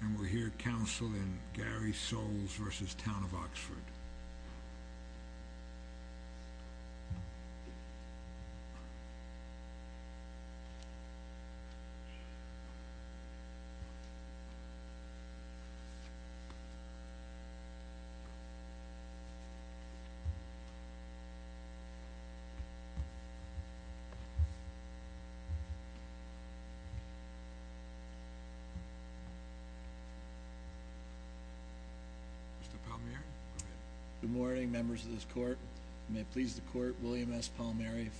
And we'll hear counsel in Gary Soles v. Town of Oxford William S. Palmieri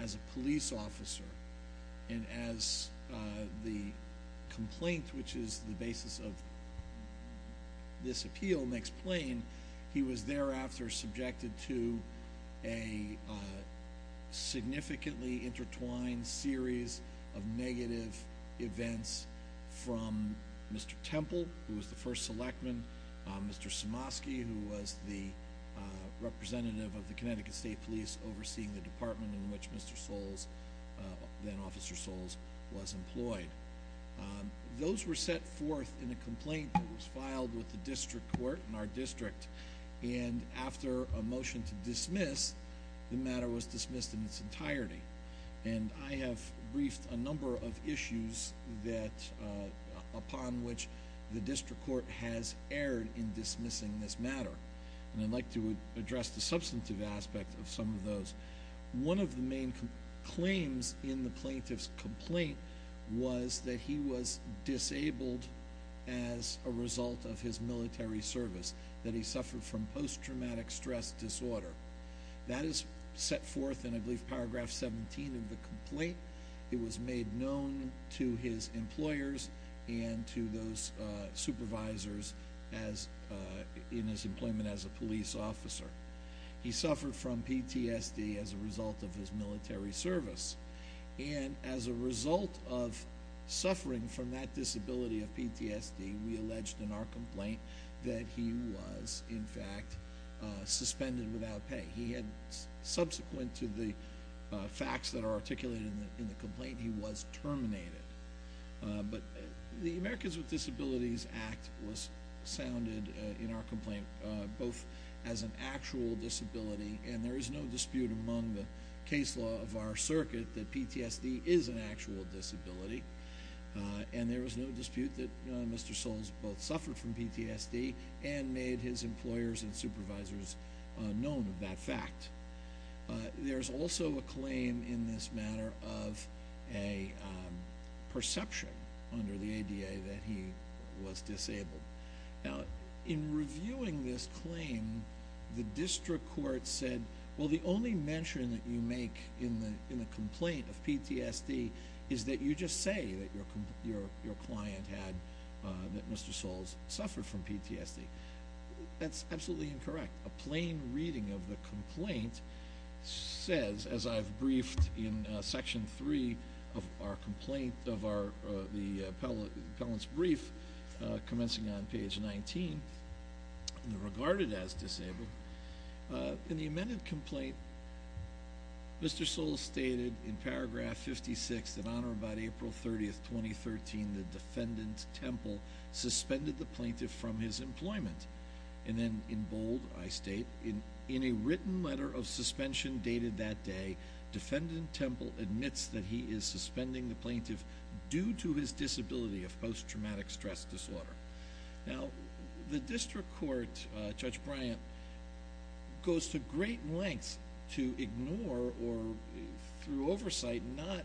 As a police officer, and as the complaint, which is the basis of this appeal makes plain, he was thereafter subjected to a significantly intertwined series of negative events from Mr. Temple, who was the first selectman, Mr. Simosky, who was the representative of the Connecticut State Police overseeing the department in which Mr. Temple served. Those were set forth in a complaint that was filed with the district court in our district, and after a motion to dismiss, the matter was dismissed in its entirety. And I have briefed a number of issues upon which the district court has erred in dismissing this matter, and I'd like to address the substantive aspect of some of those. One of the main claims in the plaintiff's complaint was that he was disabled as a result of his military service, that he suffered from post-traumatic stress disorder. That is set forth in, I believe, paragraph 17 of the complaint. It was made known to his employers and to those supervisors in his employment as a police officer. He suffered from PTSD as a result of his military service, and as a result of suffering from that disability of PTSD, we alleged in our complaint that he was, in fact, suspended without pay. He had, subsequent to the facts that are articulated in the complaint, he was terminated. But the Americans with Disabilities Act was sounded in our complaint both as an actual disability, and there is no dispute among the case law of our circuit that PTSD is an actual disability. And there is no dispute that Mr. Soles both suffered from PTSD and made his employers and supervisors known of that fact. There's also a claim in this matter of a perception under the ADA that he was disabled. Now, in reviewing this claim, the district court said, well, the only mention that you make in the complaint of PTSD is that you just say that your client had, that Mr. Soles suffered from PTSD. That's absolutely incorrect. A plain reading of the complaint says, as I've briefed in Section 3 of our complaint, of the appellant's brief, commencing on page 19, regarded as disabled. In the amended complaint, Mr. Soles stated in paragraph 56, in honor of about April 30, 2013, the defendant Temple suspended the plaintiff from his employment. And then, in bold, I state, in a written letter of suspension dated that day, defendant Temple admits that he is suspending the plaintiff due to his disability of post-traumatic stress disorder. Now, the district court, Judge Bryant, goes to great lengths to ignore or, through oversight, not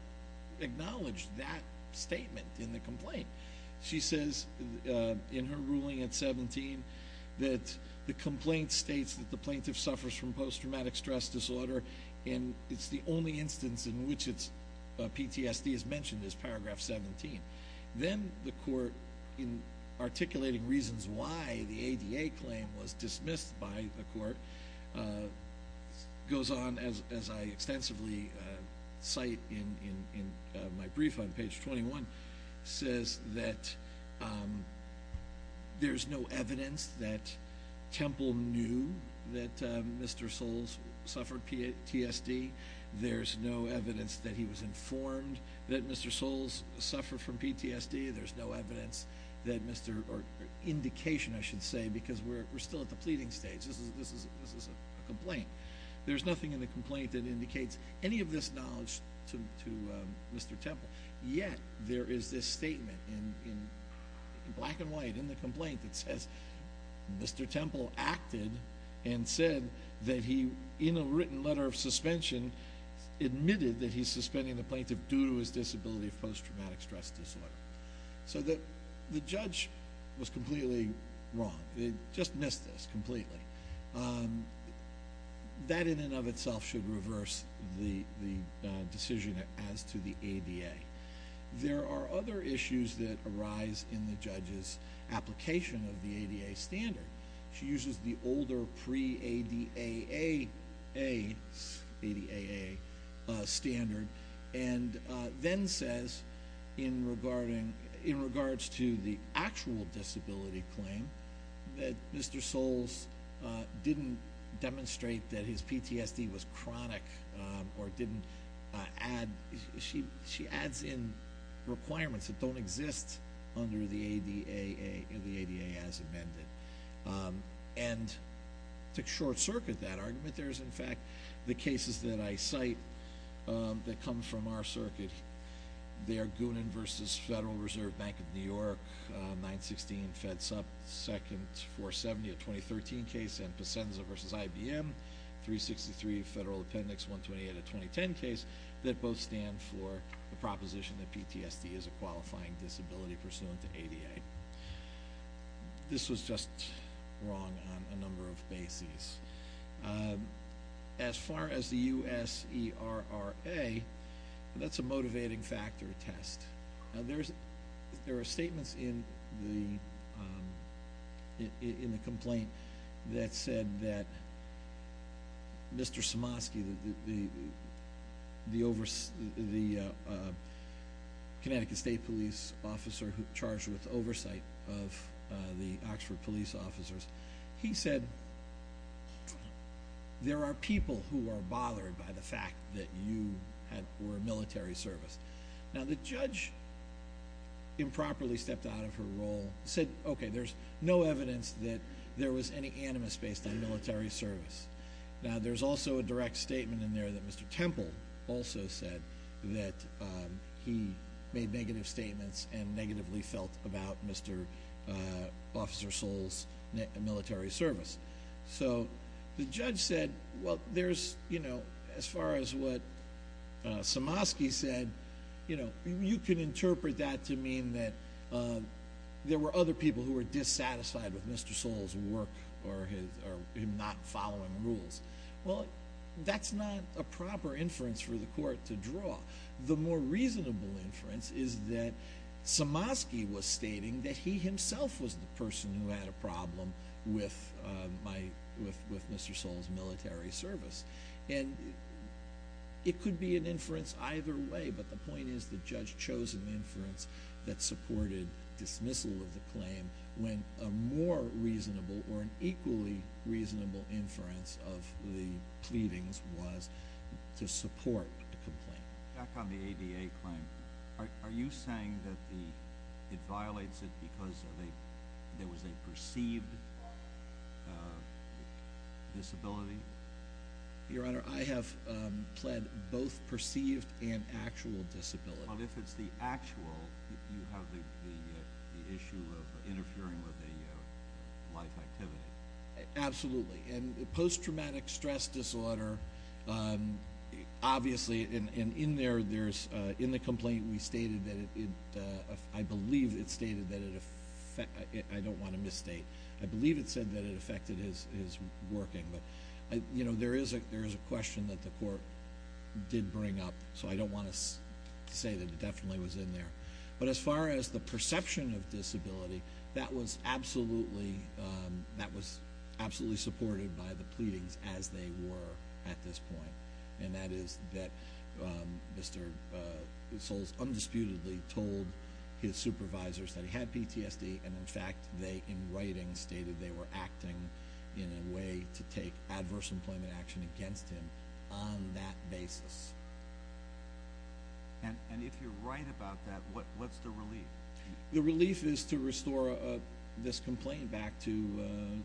acknowledge that statement in the complaint. She says, in her ruling at 17, that the complaint states that the plaintiff suffers from post-traumatic stress disorder and it's the only instance in which PTSD is mentioned in paragraph 17. Then, the court, in articulating reasons why the ADA claim was dismissed by the court, goes on, as I extensively cite in my brief on page 21, says that there's no evidence that Temple knew that Mr. Soles suffered PTSD. There's no evidence that he was informed that Mr. Soles suffered from PTSD. There's no evidence that Mr., or indication, I should say, because we're still at the pleading stage. This is a complaint. There's nothing in the complaint that indicates any of this knowledge to Mr. Temple. Yet, there is this statement in black and white in the complaint that says Mr. Temple acted and said that he, in a written letter of suspension, admitted that he's suspending the plaintiff due to his disability of post-traumatic stress disorder. So, the judge was completely wrong. They just missed this completely. That, in and of itself, should reverse the decision as to the ADA. There are other issues that arise in the judge's application of the ADA standard. She uses the older pre-ADAA standard and then says, in regards to the actual disability claim, that Mr. Soles didn't demonstrate that his PTSD was chronic or didn't add, she adds in requirements that don't exist under the ADA as amended. And, to short-circuit that argument, there's, in fact, the cases that I cite that come from our circuit. They are Goonan v. Federal Reserve Bank of New York, 916 FEDSUP, 2nd 470, a 2013 case, and Pacenza v. IBM, 363 Federal Appendix 128, a 2010 case, that both stand for the proposition that PTSD is a qualifying disability pursuant to ADA. This was just wrong on a number of bases. As far as the USERRA, that's a motivating factor test. Now, there are statements in the complaint that said that Mr. Somosky, the Connecticut State Police officer charged with oversight of the Oxford police officers, he said, there are people who are bothered by the fact that you were a military service. Now, the judge improperly stepped out of her role, said, okay, there's no evidence that there was any animus based on military service. Now, there's also a direct statement in there that Mr. Temple also said that he made negative statements and negatively felt about Mr. Officer Soles' military service. So, the judge said, well, there's, you know, as far as what Somosky said, you know, you can interpret that to mean that there were other people who were dissatisfied with Mr. Soles' work or him not following rules. Well, that's not a proper inference for the court to draw. The more reasonable inference is that Somosky was stating that he himself was the person who had a problem with Mr. Soles' military service. And it could be an inference either way, but the point is the judge chose an inference that supported dismissal of the claim when a more reasonable or an equally reasonable inference of the pleadings was to support the complaint. Back on the ADA claim, are you saying that it violates it because there was a perceived disability? Your Honor, I have pled both perceived and actual disability. But if it's the actual, you have the issue of interfering with the life activity. Absolutely. And post-traumatic stress disorder, obviously, and in there, there's, in the complaint, we stated that it, I believe it stated that it, I don't want to misstate, I believe it said that it affected his working. But, you know, there is a question that the court did bring up, so I don't want to say that it definitely was in there. But as far as the perception of disability, that was absolutely supported by the pleadings as they were at this point. And that is that Mr. Soles undisputedly told his supervisors that he had PTSD and, in fact, they, in writing, stated they were acting in a way to take adverse employment action against him on that basis. And if you're right about that, what's the relief? The relief is to restore this complaint back to,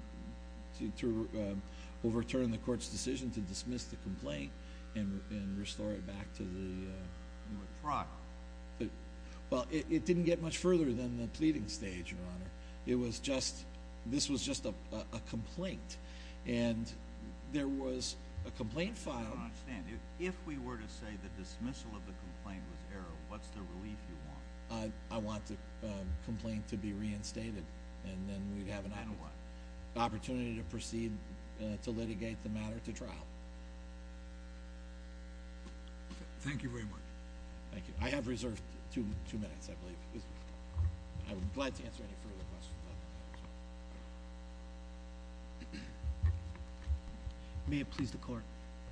to overturn the court's decision to dismiss the complaint and restore it back to the… You were propped. Well, it didn't get much further than the pleading stage, Your Honor. It was just, this was just a complaint. And there was a complaint filed… If we were to say the dismissal of the complaint was error, what's the relief you want? I want the complaint to be reinstated and then we'd have an opportunity to proceed to litigate the matter to trial. Thank you very much. Thank you. I have reserved two minutes, I believe. I would be glad to answer any further questions. May it please the court.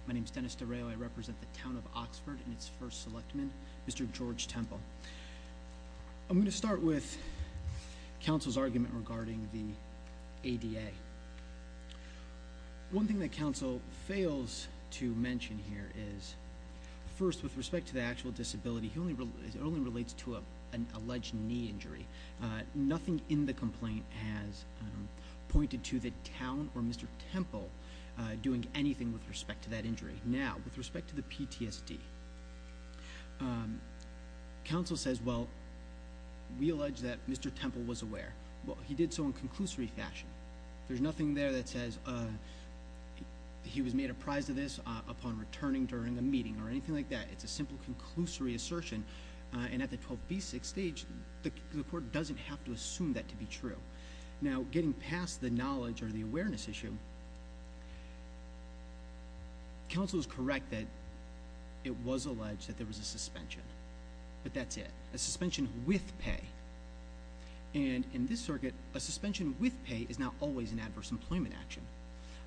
My name is Dennis DeRao. I represent the town of Oxford and its first selectman, Mr. George Temple. I'm going to start with counsel's argument regarding the ADA. One thing that counsel fails to mention here is, first, with respect to the actual disability, it only relates to an alleged knee injury. Nothing in the complaint has pointed to the town or Mr. Temple doing anything with respect to that injury. Now, with respect to the PTSD, counsel says, well, we allege that Mr. Temple was aware. Well, he did so in conclusory fashion. There's nothing there that says he was made apprised of this upon returning during a meeting or anything like that. It's a simple conclusory assertion. And at the 12B6 stage, the court doesn't have to assume that to be true. Now, getting past the knowledge or the awareness issue, counsel is correct that it was alleged that there was a suspension. But that's it. A suspension with pay. And in this circuit, a suspension with pay is not always an adverse employment action.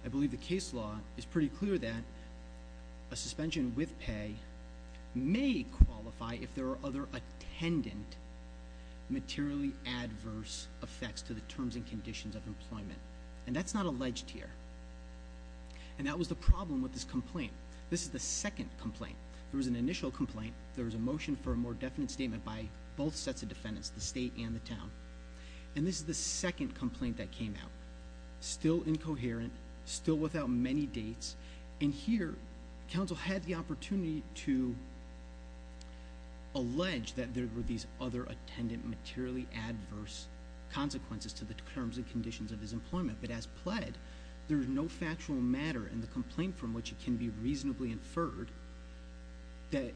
I believe the case law is pretty clear that a suspension with pay may qualify if there are other attendant materially adverse effects to the terms and conditions of employment. And that's not alleged here. And that was the problem with this complaint. This is the second complaint. There was an initial complaint. There was a motion for a more definite statement by both sets of defendants, the state and the town. And this is the second complaint that came out. Still incoherent. Still without many dates. And here, counsel had the opportunity to allege that there were these other attendant materially adverse consequences to the terms and conditions of his employment. But as pled, there is no factual matter in the complaint from which it can be reasonably inferred that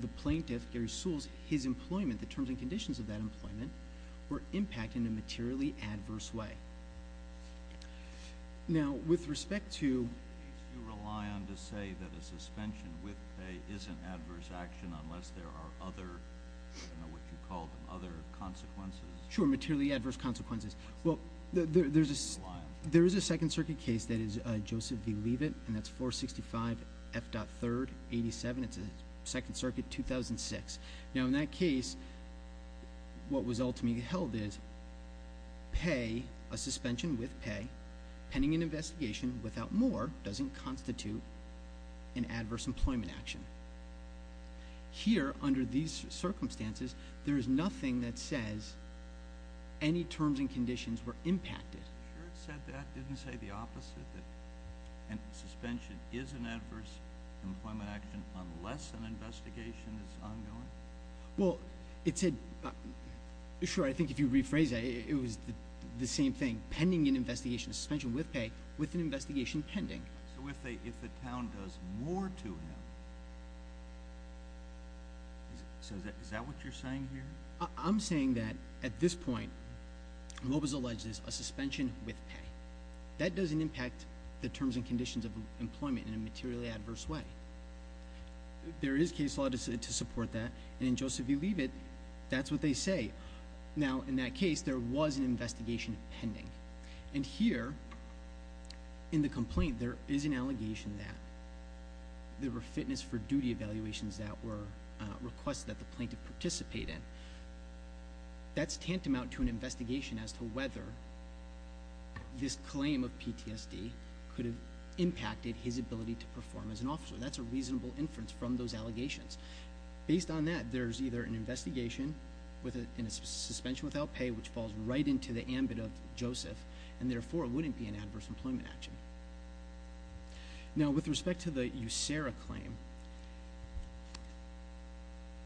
the plaintiff, Gary Sewell's, his employment, the terms and conditions of that employment, were impacted in a materially adverse way. Now, with respect to... Do you rely on to say that a suspension with pay isn't adverse action unless there are other, you know, what you call them, other consequences? Sure, materially adverse consequences. Well, there is a Second Circuit case that is Joseph v. Leavitt, and that's 465 F.3rd 87. It's a Second Circuit 2006. Now, in that case, what was ultimately held is pay, a suspension with pay, pending an investigation without more, doesn't constitute an adverse employment action. Here, under these circumstances, there is nothing that says any terms and conditions were impacted. Sure it said that. It didn't say the opposite, that a suspension is an adverse employment action unless an investigation is ongoing? Well, it said... Sure, I think if you rephrase that, it was the same thing. Pending an investigation, a suspension with pay, with an investigation pending. So if the town does more to him... So is that what you're saying here? I'm saying that, at this point, what was alleged is a suspension with pay. That doesn't impact the terms and conditions of employment in a materially adverse way. There is case law to support that, and in Joseph v. Leavitt, that's what they say. Now, in that case, there was an investigation pending. And here, in the complaint, there is an allegation that there were fitness for duty evaluations that were requested that the plaintiff participate in. That's tantamount to an investigation as to whether this claim of PTSD could have impacted his ability to perform as an officer. That's a reasonable inference from those allegations. Based on that, there's either an investigation in a suspension without pay, which falls right into the ambit of Joseph, and, therefore, it wouldn't be an adverse employment action. Now, with respect to the USARA claim,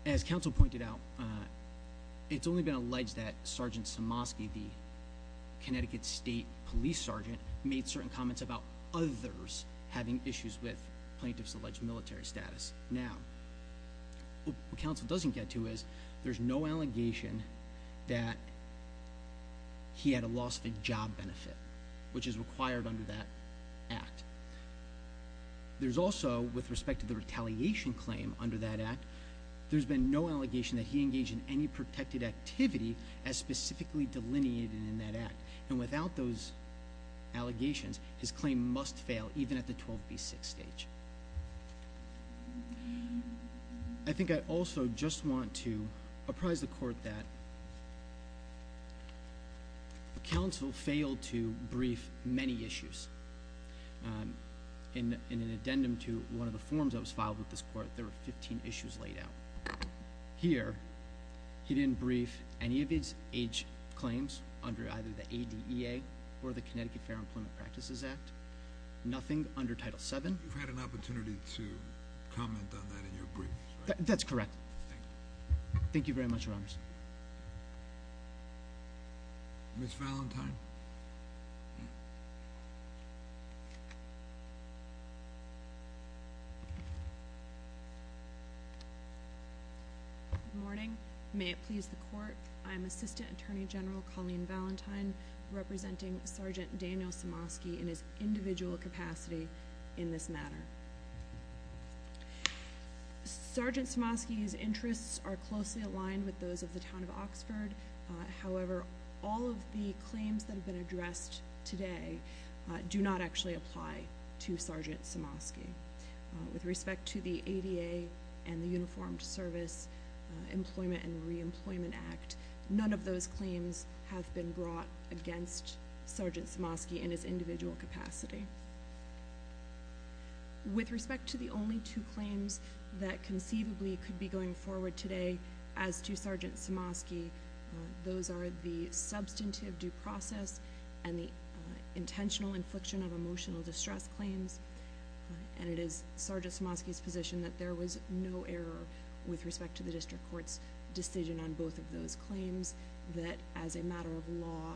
as counsel pointed out, it's only been alleged that Sgt. Somoskey, the Connecticut State Police Sergeant, made certain comments about others having issues with plaintiff's alleged military status. Now, what counsel doesn't get to is there's no allegation that he had a loss of a job benefit, which is required under that act. There's also, with respect to the retaliation claim under that act, there's been no allegation that he engaged in any protected activity as specifically delineated in that act. And without those allegations, his claim must fail, even at the 12B6 stage. I think I also just want to apprise the court that counsel failed to brief many issues. In an addendum to one of the forms that was filed with this court, there were 15 issues laid out. Here, he didn't brief any of his age claims under either the ADEA or the Connecticut Fair Employment Practices Act. Nothing under Title VII. You've had an opportunity to comment on that in your brief, right? That's correct. Thank you. Thank you very much, Your Honors. Ms. Valentine? Good morning. May it please the court, I am Assistant Attorney General Colleen Valentine, representing Sergeant Daniel Samosky in his individual capacity in this matter. Sergeant Samosky's interests are closely aligned with those of the Town of Oxford. However, all of the claims that have been addressed today do not actually apply to Sergeant Samosky. With respect to the ADEA and the Uniformed Service Employment and Reemployment Act, none of those claims have been brought against Sergeant Samosky in his individual capacity. With respect to the only two claims that conceivably could be going forward today as to Sergeant Samosky, those are the substantive due process and the intentional infliction of emotional distress claims. And it is Sergeant Samosky's position that there was no error with respect to the District Court's decision on both of those claims, that as a matter of law,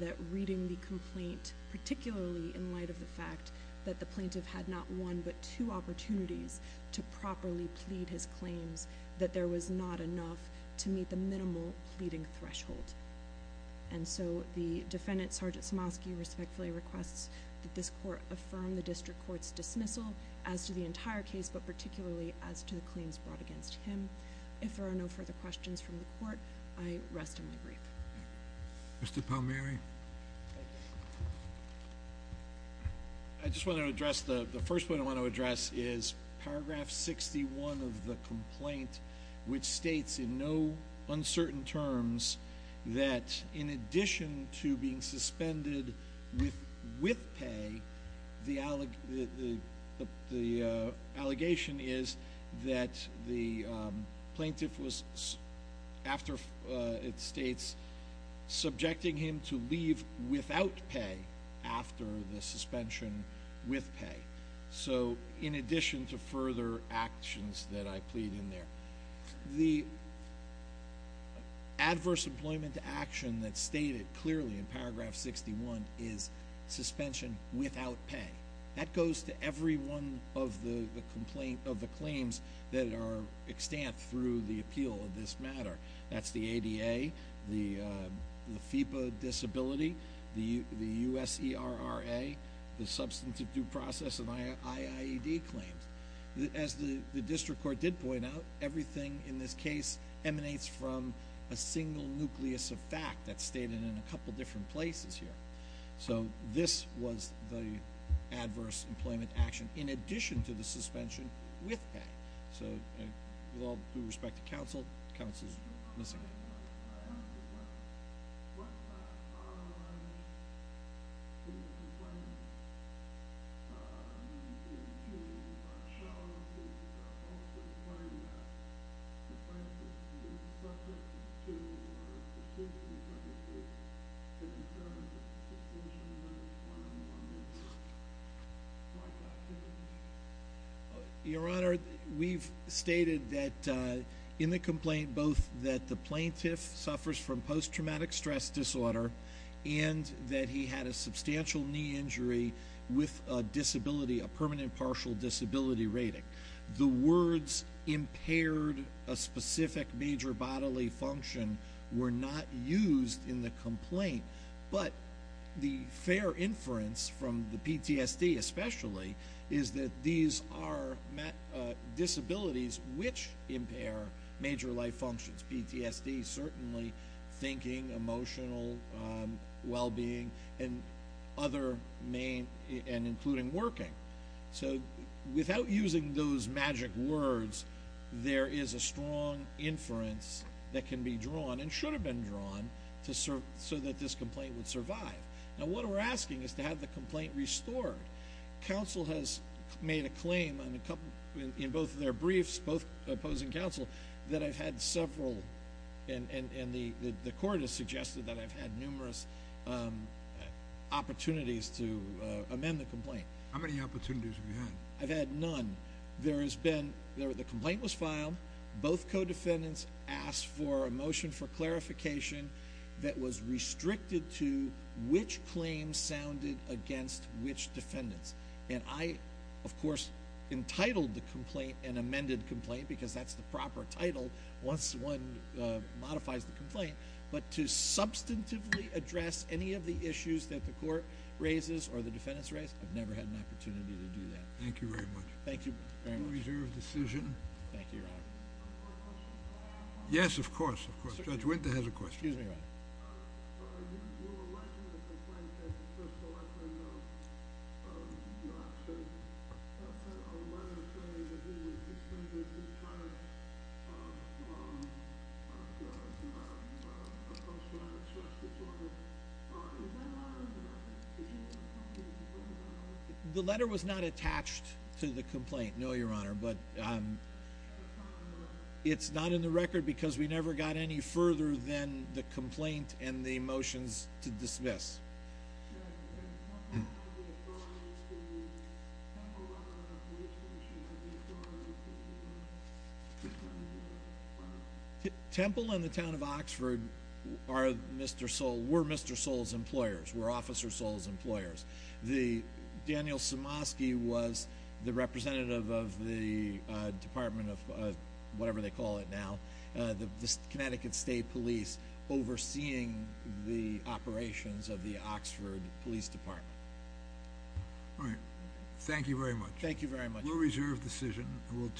that reading the complaint, particularly in light of the fact that the plaintiff had not one but two opportunities to properly plead his claims, that there was not enough to meet the minimal pleading threshold. And so the defendant, Sergeant Samosky, respectfully requests that this Court affirm the District Court's dismissal as to the entire case, but particularly as to the claims brought against him. If there are no further questions from the Court, I rest in my grief. Mr. Palmieri. I just want to address, the first point I want to address is paragraph 61 of the complaint, which states in no uncertain terms that in addition to being suspended with pay, the allegation is that the plaintiff was, after it states, subjecting him to leave without pay after the suspension with pay. So in addition to further actions that I plead in there. The adverse employment action that's stated clearly in paragraph 61 is suspension without pay. That goes to every one of the claims that are extant through the appeal of this matter. That's the ADA, the FIPA disability, the USERRA, the substantive due process and IIED claims. As the District Court did point out, everything in this case emanates from a single nucleus of fact that's stated in a couple different places here. So this was the adverse employment action in addition to the suspension with pay. So with all due respect to counsel, counsel is missing. Your Honor, we also claim that the plaintiff is subject to or is suspended without pay. To determine that the suspension without pay is one of the more misquite activities. Your Honor, we've stated that in the complaint both that the plaintiff suffers from post-traumatic stress disorder and that he had a substantial knee injury with a disability, a permanent partial disability rating. The words impaired a specific major bodily function were not used in the complaint. But the fair inference from the PTSD especially is that these are disabilities which impair major life functions. PTSD certainly thinking, emotional well-being and other main and including working. So without using those magic words, there is a strong inference that can be drawn and should have been drawn so that this complaint would survive. Now what we're asking is to have the complaint restored. Counsel has made a claim in both of their briefs, both opposing counsel, that I've had several and the court has suggested that I've had numerous opportunities to amend the complaint. How many opportunities have you had? I've had none. The complaint was filed, both co-defendants asked for a motion for clarification that was restricted to which claims sounded against which defendants. And I, of course, entitled the complaint an amended complaint because that's the proper title once one modifies the complaint. But to substantively address any of the issues that the court raises or the defendants raise, I've never had an opportunity to do that. Thank you very much. Thank you very much. Reserved decision. Thank you, Your Honor. Yes, of course, of course. Judge Winter has a question. Excuse me, Your Honor. The letter was not attached to the complaint, no, Your Honor. But it's not in the record because we never got any further than the complaint and the motions to dismiss. Temple and the town of Oxford were Mr. Soule's employers, were Officer Soule's employers. Daniel Somosky was the representative of the Department of whatever they call it now, the Connecticut State Police, overseeing the operations of the Oxford Police Department. All right. Thank you very much. Thank you very much. We'll reserve the decision.